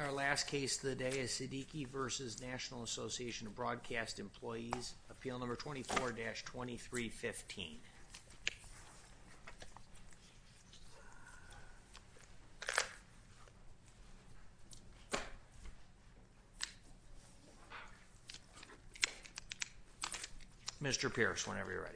Our last case of the day is Siddiqui v. National Association of Broadcast Employees, appeal number 24-2315. Mr. Pierce, whenever you're ready.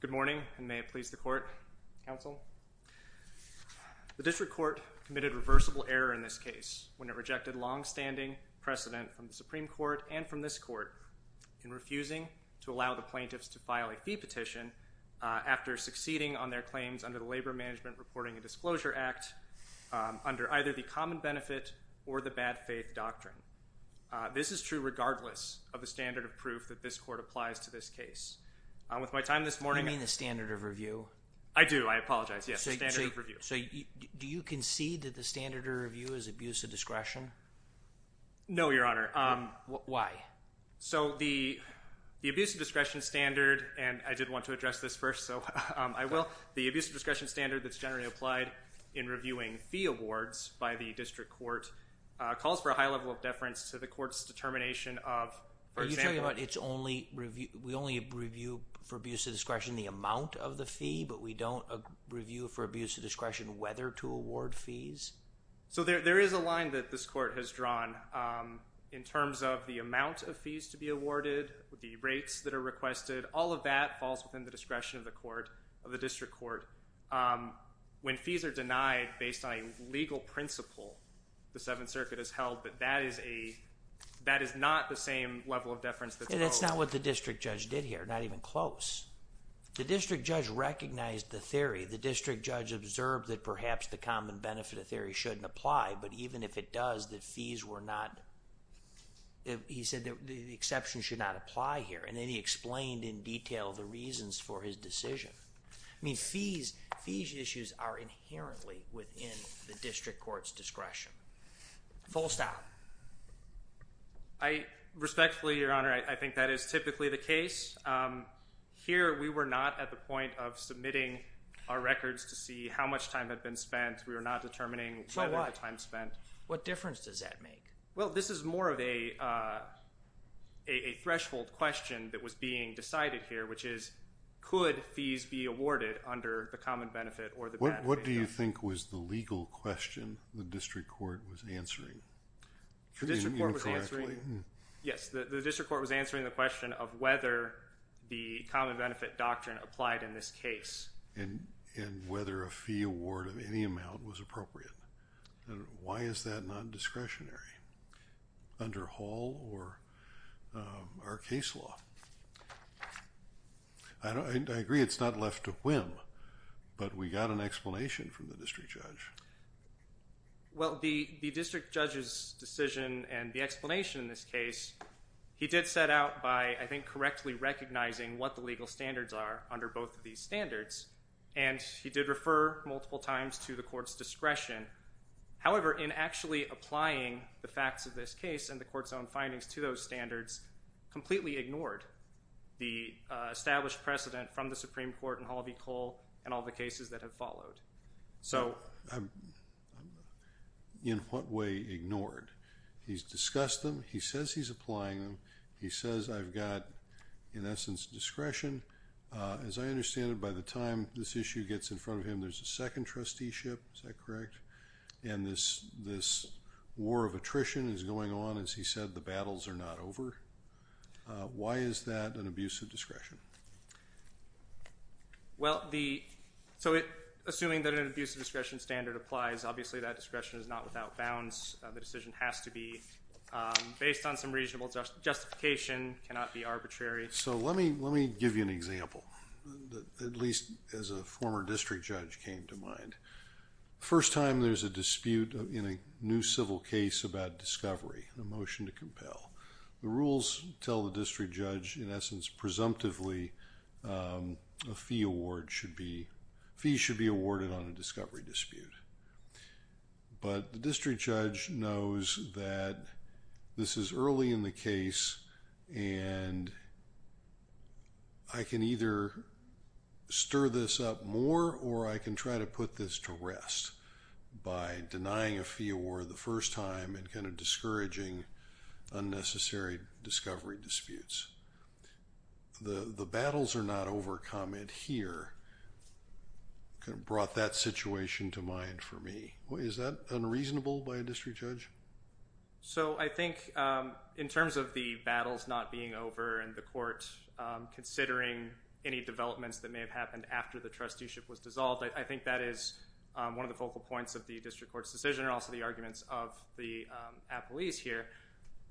Good morning, and may it please the court, counsel. The district court committed reversible error in this case when it rejected longstanding precedent from the Supreme Court and from this court in refusing to allow the plaintiffs to file a fee petition after succeeding on their claims under the Labor Management Reporting and Disclosure Act under either the Common Benefit or the Bad Faith Doctrine. This is true regardless of the standard of proof that this court applies to this case. With my time this morning— You mean the standard of review? I do. I apologize. Yes, the standard of review. So do you concede that the standard of review is abuse of discretion? No, Your Honor. Why? So the abuse of discretion standard—and I did want to address this first, so I will. The abuse of discretion standard that's generally applied in reviewing fee awards by the district court calls for a high level of deference to the court's determination of, for example— Are you talking about it's only—we only review for abuse of discretion the amount of the fee, but we don't review for abuse of discretion whether to award fees? So there is a line that this court has drawn in terms of the amount of fees to be awarded, the rates that are requested. All of that falls within the discretion of the court, of the district court. When fees are denied based on a legal principle, the Seventh Circuit has held that that is a—that is not the same level of deference that's— And that's not what the district judge did here, not even close. The district judge recognized the theory. The district judge observed that perhaps the common benefit of theory shouldn't apply, but even if it does, that fees were not—he said that the exception should not apply here, and then he explained in detail the reasons for his decision. I mean, fees—fees issues are inherently within the district court's discretion. Full stop. I respectfully, Your Honor, I think that is typically the case. Here we were not at the point of submitting our records to see how much time had been spent. We were not determining whether the time spent— What difference does that make? Well, this is more of a threshold question that was being decided here, which is, could fees be awarded under the common benefit or the bad way down? What do you think was the legal question the district court was answering? The district court was answering— Incorrectly? Yes. The district court was answering the question of whether the common benefit doctrine applied in this case. And whether a fee award of any amount was appropriate. And why is that non-discretionary under Hall or our case law? I agree it's not left to whim, but we got an explanation from the district judge. Well, the district judge's decision and the explanation in this case, he did set out by, I think, correctly recognizing what the legal standards are under both of these standards, and he did refer multiple times to the court's discretion. However, in actually applying the facts of this case and the court's own findings to those standards, completely ignored the established precedent from the Supreme Court and Hall v. Cole and all the cases that have followed. So— In what way ignored? He's discussed them. He says he's applying them. He says I've got, in essence, discretion. As I understand it, by the time this issue gets in front of him, there's a second trusteeship. Is that correct? And this war of attrition is going on, as he said, the battles are not over. Why is that an abuse of discretion? Well, so assuming that an abuse of discretion standard applies, obviously that discretion is not without bounds. The decision has to be based on some reasonable justification, cannot be arbitrary. So let me give you an example, at least as a former district judge came to mind. First time there's a dispute in a new civil case about discovery, a motion to compel. The rules tell the district judge, in essence, presumptively, a fee award should be—fees should be awarded on a discovery dispute. But the district judge knows that this is early in the case and I can either stir this up more or I can try to put this to rest by denying a fee award the first time and kind of discouraging unnecessary discovery disputes. The battles are not overcome in here kind of brought that situation to mind for me. Is that unreasonable by a district judge? So I think in terms of the battles not being over and the court considering any developments that may have happened after the trusteeship was dissolved, I think that is one of the focal points of the district court's decision and also the arguments of the applease here.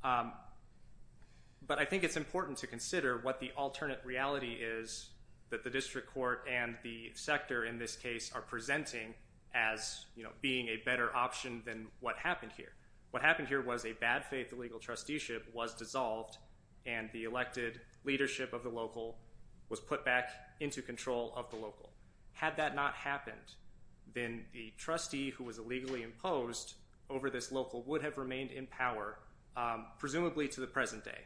But I think it's important to consider what the alternate reality is that the district court and the sector in this case are presenting as, you know, being a better option than what happened here. What happened here was a bad faith legal trusteeship was dissolved and the elected leadership of the local was put back into control of the local. Had that not happened, then the trustee who was illegally imposed over this local would have remained in power presumably to the present day.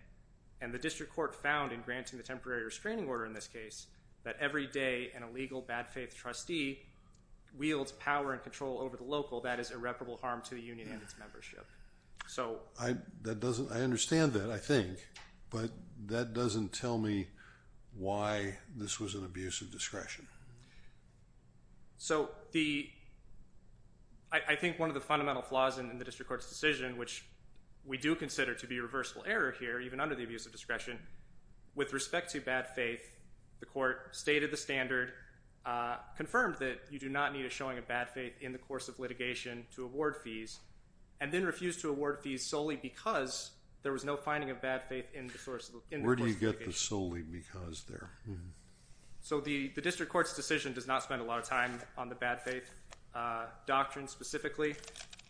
And the district court found in granting the temporary restraining order in this case that every day an illegal bad faith trustee wields power and control over the local that is irreparable harm to the union and its membership. So that doesn't, I understand that I think, but that doesn't tell me why this was an abuse of discretion. So the, I think one of the fundamental flaws in the district court's decision, which we do consider to be a reversible error here, even under the abuse of discretion, with respect to bad faith, the court stated the standard, confirmed that you do not need a showing of bad faith in the course of litigation to award fees, and then refused to award fees solely because there was no finding of bad faith in the course of litigation. Where do you get the solely because there? So the district court's decision does not spend a lot of time on the bad faith doctrine specifically.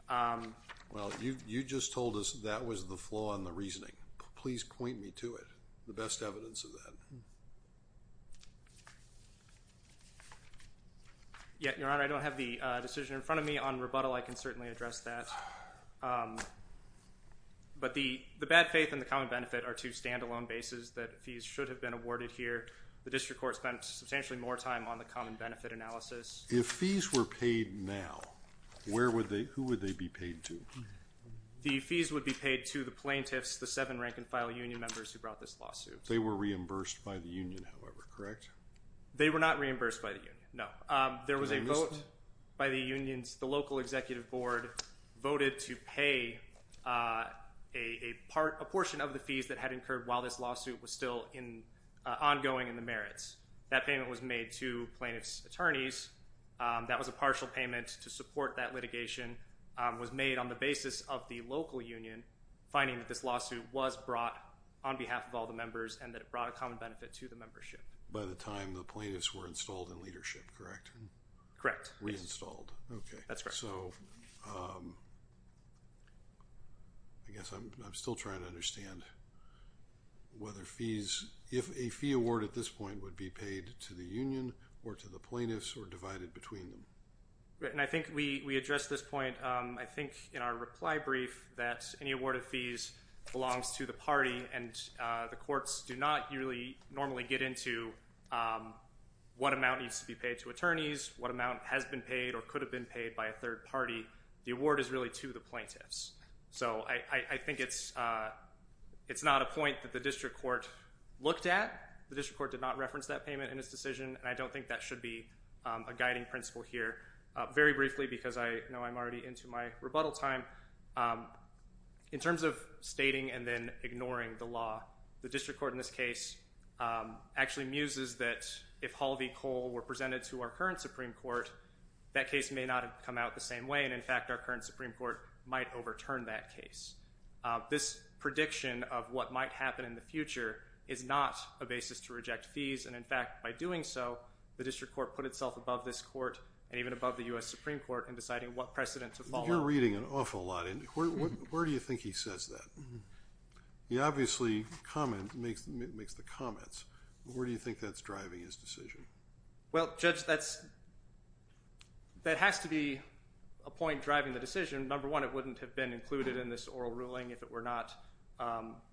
Well, you just told us that was the flaw in the reasoning. Please point me to it, the best evidence of that. Yeah, Your Honor, I don't have the decision in front of me on rebuttal. I can certainly address that. But the bad faith and the common benefit are two standalone bases that fees should have been awarded here. The district court spent substantially more time on the common benefit analysis. If fees were paid now, where would they, who would they be paid to? The fees would be paid to the plaintiffs, the seven rank-and-file union members who brought this lawsuit. They were reimbursed by the union, however, correct? They were not reimbursed by the union, no. There was a vote by the unions, the local executive board voted to pay a portion of the fees that had incurred while this lawsuit was still ongoing in the merits. That payment was made to plaintiffs' attorneys. That was a partial payment to support that litigation, was made on the basis of the local union finding that this lawsuit was brought on behalf of all the members and that it brought a common benefit to the membership. By the time the plaintiffs were installed in leadership, correct? Correct. Reinstalled. Okay. That's correct. So, I guess I'm still trying to understand whether fees, if a fee award at this point would be paid to the union or to the plaintiffs or divided between them. Right, and I think we addressed this point, I think in our reply brief that any award of fees belongs to the party and the courts do not usually, normally get into what amount needs to be paid to attorneys, what amount has been paid or could have been paid by a different party, the award is really to the plaintiffs. So I think it's not a point that the district court looked at, the district court did not reference that payment in its decision and I don't think that should be a guiding principle here. Very briefly because I know I'm already into my rebuttal time, in terms of stating and then ignoring the law, the district court in this case actually muses that if Hall v. Wayne, in fact, our current Supreme Court might overturn that case. This prediction of what might happen in the future is not a basis to reject fees and in fact, by doing so, the district court put itself above this court and even above the U.S. Supreme Court in deciding what precedent to follow. You're reading an awful lot in, where do you think he says that? He obviously makes the comments, where do you think that's driving his decision? Well, Judge, that has to be a point driving the decision. Number one, it wouldn't have been included in this oral ruling if it were not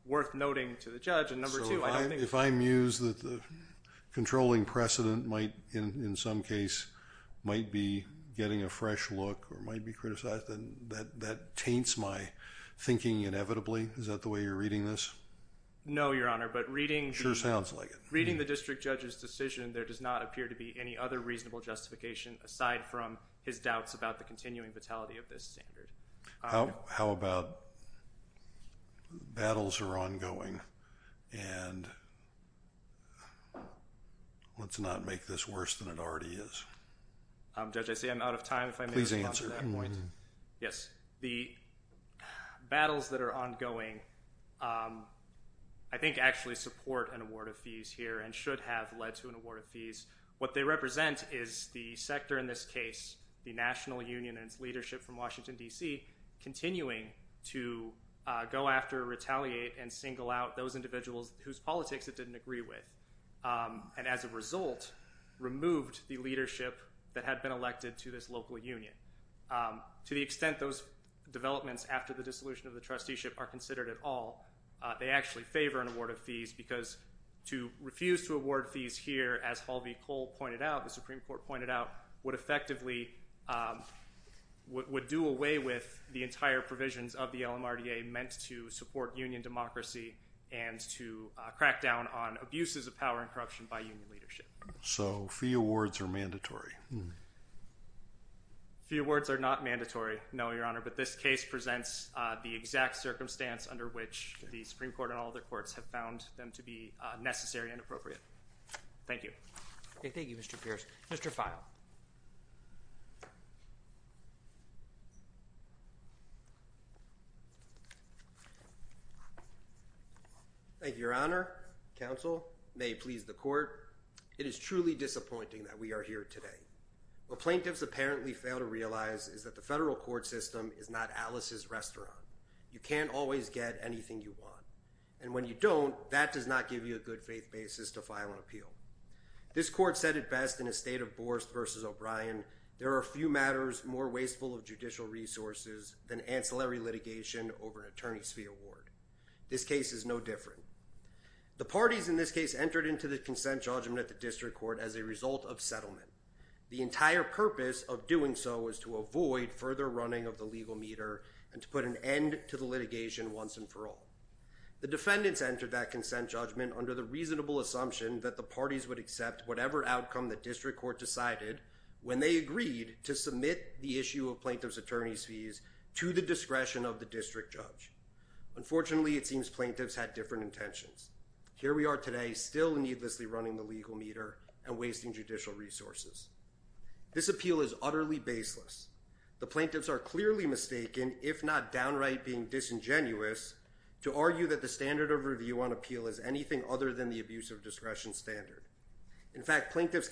worth noting to the judge and number two, I don't think... So if I muse that the controlling precedent might, in some case, might be getting a fresh look or might be criticized, then that taints my thinking inevitably? Is that the way you're reading this? No, Your Honor, but reading... It sure sounds like it. Reading the district judge's decision, there does not appear to be any other reasonable justification aside from his doubts about the continuing vitality of this standard. How about battles are ongoing and let's not make this worse than it already is? Um, Judge, I see I'm out of time if I may respond to that point. Please answer. Yes. The battles that are ongoing, I think, actually support an award of fees here and should have led to an award of fees. What they represent is the sector in this case, the National Union and its leadership from Washington, D.C., continuing to go after, retaliate, and single out those individuals whose politics it didn't agree with and, as a result, removed the leadership that had been elected to this local union. To the extent those developments after the dissolution of the trusteeship are considered at all, they actually favor an award of fees because to refuse to award fees here, as Hall v. Cole pointed out, the Supreme Court pointed out, would effectively, would do away with the entire provisions of the LMRDA meant to support union democracy and to crack down on abuses of power and corruption by union leadership. So fee awards are mandatory? Fee awards are not mandatory, no, Your Honor, but this case presents the exact circumstance under which the Supreme Court and all other courts have found them to be necessary and Thank you. Thank you, Mr. Pierce. Mr. Feil. Thank you, Your Honor. Counsel may please the court. Your Honor, it is truly disappointing that we are here today. What plaintiffs apparently fail to realize is that the federal court system is not Alice's restaurant. You can't always get anything you want, and when you don't, that does not give you a good faith basis to file an appeal. This court said it best in a state of Borst v. O'Brien, there are few matters more wasteful of judicial resources than ancillary litigation over an attorney's fee award. This case is no different. The parties in this case entered into the consent judgment at the district court as a result of settlement. The entire purpose of doing so is to avoid further running of the legal meter and to put an end to the litigation once and for all. The defendants entered that consent judgment under the reasonable assumption that the parties would accept whatever outcome the district court decided when they agreed to submit the issue of plaintiff's attorney's fees to the discretion of the district judge. Unfortunately, it seems plaintiffs had different intentions. Here we are today still needlessly running the legal meter and wasting judicial resources. This appeal is utterly baseless. The plaintiffs are clearly mistaken, if not downright being disingenuous, to argue that the standard of review on appeal is anything other than the abuse of discretion standard. In fact, plaintiff's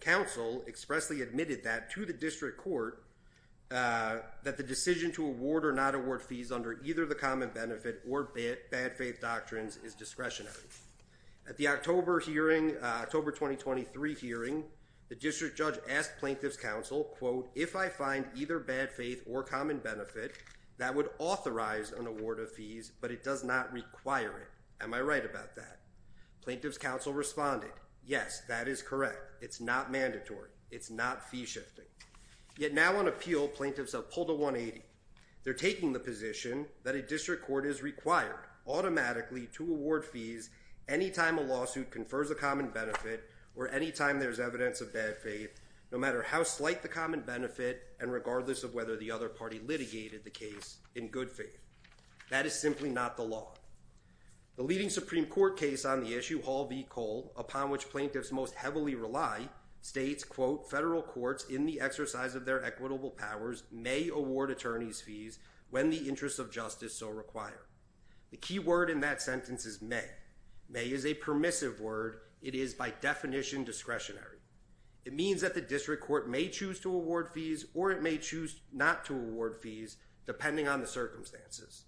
counsel expressly admitted that to the district court that the decision to award or not award fees under either the common benefit or bad faith doctrines is discretionary. At the October hearing, October 2023 hearing, the district judge asked plaintiff's counsel, quote, if I find either bad faith or common benefit, that would authorize an award of fees, but it does not require it. Am I right about that? Plaintiff's counsel responded, yes, that is correct. It's not mandatory. It's not fee shifting. Yet now on appeal, plaintiffs have pulled a 180. They're taking the position that a district court is required automatically to award fees anytime a lawsuit confers a common benefit or anytime there's evidence of bad faith, no matter how slight the common benefit and regardless of whether the other party litigated the case in good faith. That is simply not the law. The leading Supreme Court case on the issue, Hall v. Cole, upon which plaintiffs most heavily rely, states, quote, federal courts in the exercise of their equitable powers may award attorneys fees when the interests of justice so require. The key word in that sentence is may. May is a permissive word. It is by definition discretionary. It means that the district court may choose to award fees or it may choose not to award fees depending on the circumstances.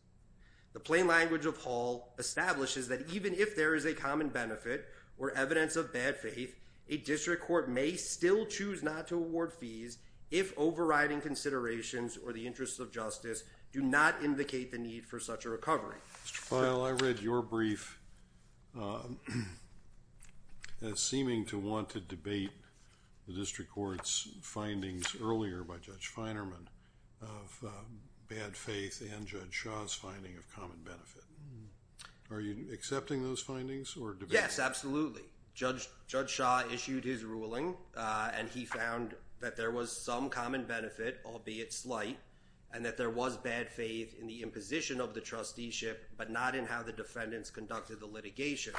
The plain language of Hall establishes that even if there is a common benefit or evidence of bad faith, a district court may still choose not to award fees if overriding considerations or the interests of justice do not indicate the need for such a recovery. Mr. Feil, I read your brief as seeming to want to debate the district court's findings earlier by Judge Feinerman of bad faith and Judge Shaw's finding of common benefit. Are you accepting those findings or debating them? Yes, absolutely. Judge Shaw issued his ruling and he found that there was some common benefit, albeit slight, and that there was bad faith in the imposition of the trusteeship but not in how the defendants conducted the litigation.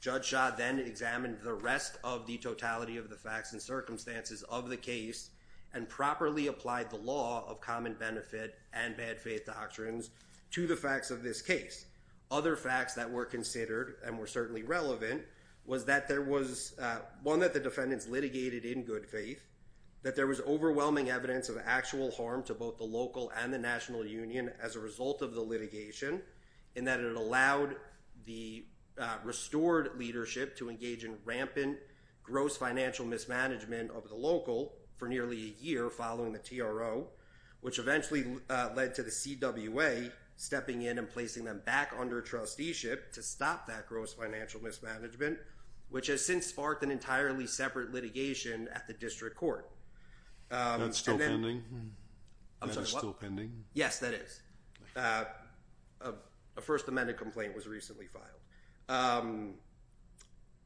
Judge Shaw then examined the rest of the totality of the facts and circumstances of the case and properly applied the law of common benefit and bad faith doctrines to the facts of this case. Other facts that were considered and were certainly relevant was that there was one that the defendants litigated in good faith, that there was overwhelming evidence of actual harm to both the local and the national union as a result of the litigation, and that it allowed the restored leadership to engage in rampant gross financial mismanagement of the local for nearly a year following the TRO, which eventually led to the CWA stepping in and placing them back under trusteeship to stop that gross financial mismanagement, which has since sparked an entirely separate litigation at the district court. That's still pending? I'm sorry, what? Yes, that is. A First Amendment complaint was recently filed.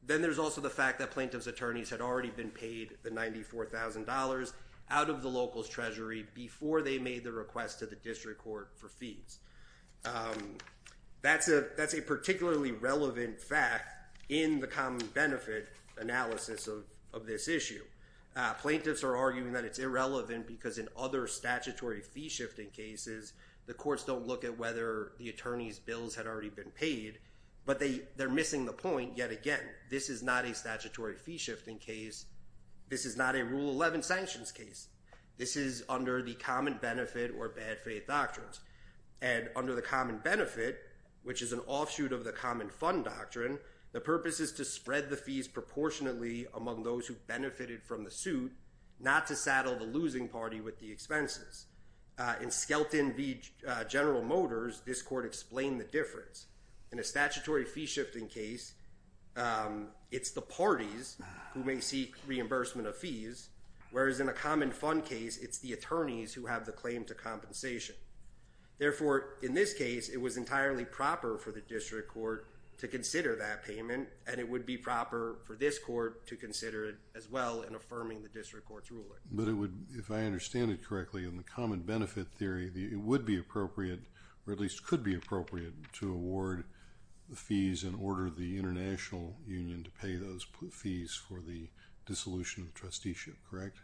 Then there's also the fact that plaintiff's attorneys had already been paid the $94,000 out of the local's treasury before they made the request to the district court for fees. That's a particularly relevant fact in the common benefit analysis of this issue. Plaintiffs are arguing that it's irrelevant because in other statutory fee shifting cases, the courts don't look at whether the attorney's bills had already been paid, but they're missing the point yet again. This is not a statutory fee shifting case. This is not a Rule 11 sanctions case. This is under the common benefit or bad faith doctrines. And under the common benefit, which is an offshoot of the common fund doctrine, the purpose is to spread the fees proportionately among those who benefited from the suit, not to saddle the losing party with the expenses. In Skelton v. General Motors, this court explained the difference. In a statutory fee shifting case, it's the parties who may seek reimbursement of fees, whereas in a common fund case, it's the attorneys who have the claim to compensation. Therefore, in this case, it was entirely proper for the district court to consider that payment, and it would be proper for this court to consider it as well in affirming the district court's ruling. But it would, if I understand it correctly, in the common benefit theory, it would be appropriate, or at least could be appropriate, to award the fees and order the international union to pay those fees for the dissolution of trusteeship, correct?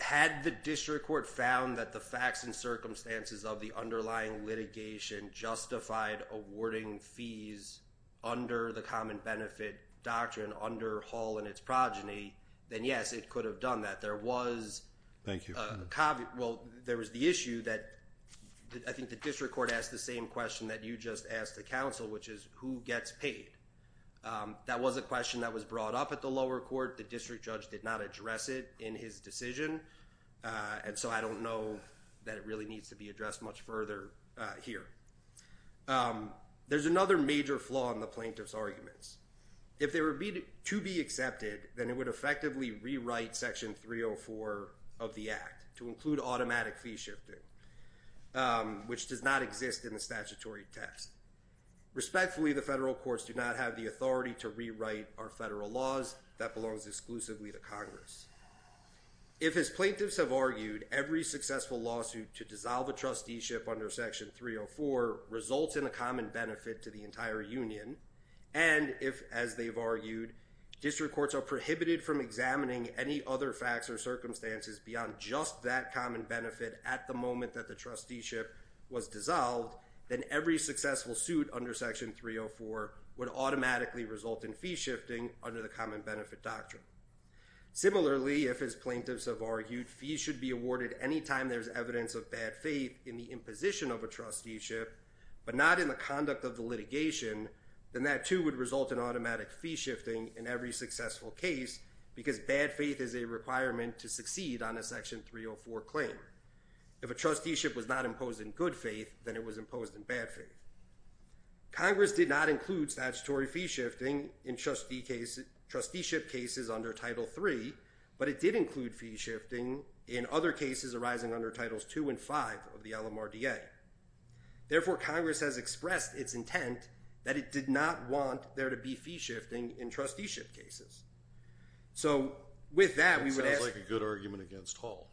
Had the district court found that the facts and circumstances of the underlying litigation justified awarding fees under the common benefit doctrine under Hull and its progeny, then yes, it could have done that. Thank you. Well, there was the issue that I think the district court asked the same question that you just asked the counsel, which is who gets paid? That was a question that was brought up at the lower court. The district judge did not address it in his decision, and so I don't know that it really needs to be addressed much further here. There's another major flaw in the plaintiff's arguments. If they were to be accepted, then it would effectively rewrite Section 304 of the Act to include automatic fee shifting, which does not exist in the statutory text. Respectfully, the federal courts do not have the authority to rewrite our federal laws. That belongs exclusively to Congress. If his plaintiffs have argued every successful lawsuit to dissolve a trusteeship under Section 304 results in a common benefit to the entire union, and if, as they've argued, district courts are prohibited from examining any other facts or circumstances beyond just that common benefit at the moment that the trusteeship was dissolved, then every successful suit under Section 304 would automatically result in fee shifting under the common benefit doctrine. Similarly, if his plaintiffs have argued fees should be awarded any time there's evidence of bad faith in the imposition of a trusteeship but not in the conduct of the litigation, then that, too, would result in automatic fee shifting in every successful case because bad faith is a requirement to succeed on a Section 304 claim. If a trusteeship was not imposed in good faith, then it was imposed in bad faith. Congress did not include statutory fee shifting in trusteeship cases under Title III, but it did include fee shifting in other cases arising under Titles II and V of the LMRDA. Therefore, Congress has expressed its intent that it did not want there to be fee shifting in trusteeship cases. So, with that, we would ask— That sounds like a good argument against Hall.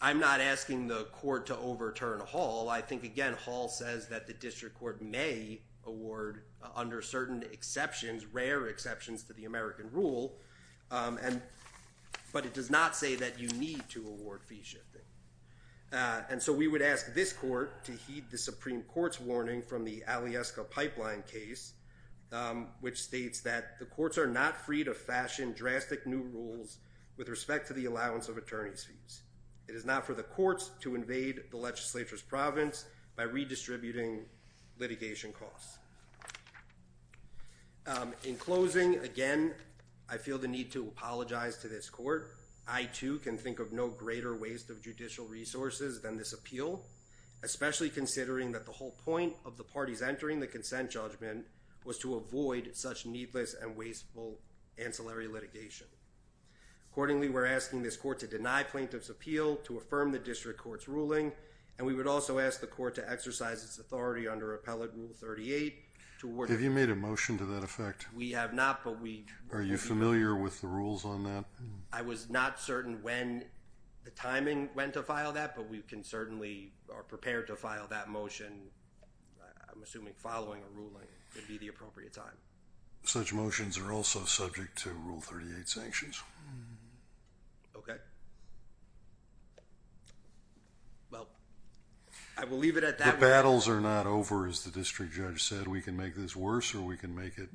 I'm not asking the court to overturn Hall. I think, again, Hall says that the district court may award, under certain exceptions, rare exceptions to the American rule, but it does not say that you need to award fee shifting. And so we would ask this court to heed the Supreme Court's warning from the Alyeska Pipeline case, which states that the courts are not free to fashion drastic new rules with respect to the allowance of attorney's fees. It is not for the courts to invade the legislature's province by redistributing litigation costs. In closing, again, I feel the need to apologize to this court. I, too, can think of no greater waste of judicial resources than this appeal, especially considering that the whole point of the parties entering the consent judgment was to avoid such needless and wasteful ancillary litigation. Accordingly, we're asking this court to deny plaintiff's appeal, to affirm the district court's ruling, and we would also ask the court to exercise its authority under Appellate Rule 38 to award- Have you made a motion to that effect? We have not, but we- Are you familiar with the rules on that? I was not certain when the timing when to file that, but we can certainly, are prepared to file that motion, I'm assuming following a ruling, would be the appropriate time. Such motions are also subject to Rule 38 sanctions. Okay. Well, I will leave it at that. The battles are not over, as the district judge said. We can make this worse or we can make it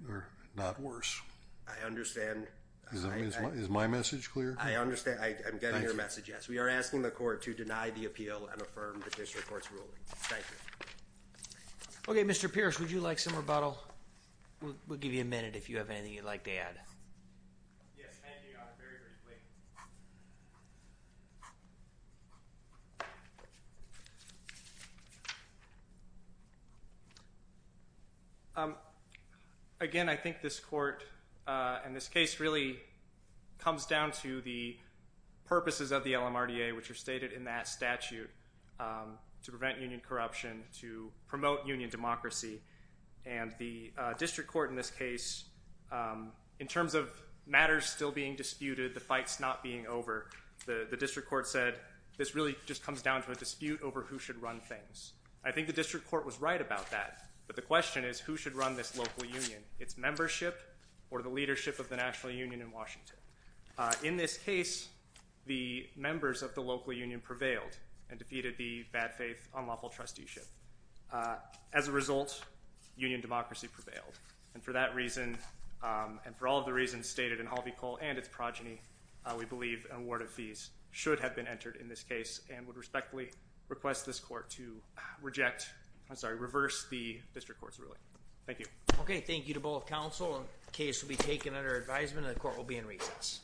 not worse. I understand. Is my message clear? I understand. I'm getting your message, yes. We are asking the court to deny the appeal and affirm the district court's ruling. Thank you. Okay, Mr. Pierce, would you like some rebuttal? We'll give you a minute if you have anything you'd like to add. Yes, thank you, Your Honor. Very briefly. Again, I think this court and this case really comes down to the purposes of the LMRDA, which are stated in that statute, to prevent union corruption, to promote union democracy. And the district court in this case, in terms of matters still being disputed, the fights not being over, the district court said, this really just comes down to a dispute over who should run things. I think the district court was right about that. But the question is, who should run this local union, its membership or the leadership of the national union in Washington? In this case, the members of the local union prevailed and defeated the bad faith, unlawful trusteeship. As a result, union democracy prevailed. And for that reason, and for all of the reasons stated in Harvey Cole and its progeny, we believe an award of fees should have been entered in this case and would respectfully request this court to reject, I'm sorry, reverse the district court's ruling. Thank you. Okay, thank you to both counsel. The case will be taken under advisement and the court will be in recess.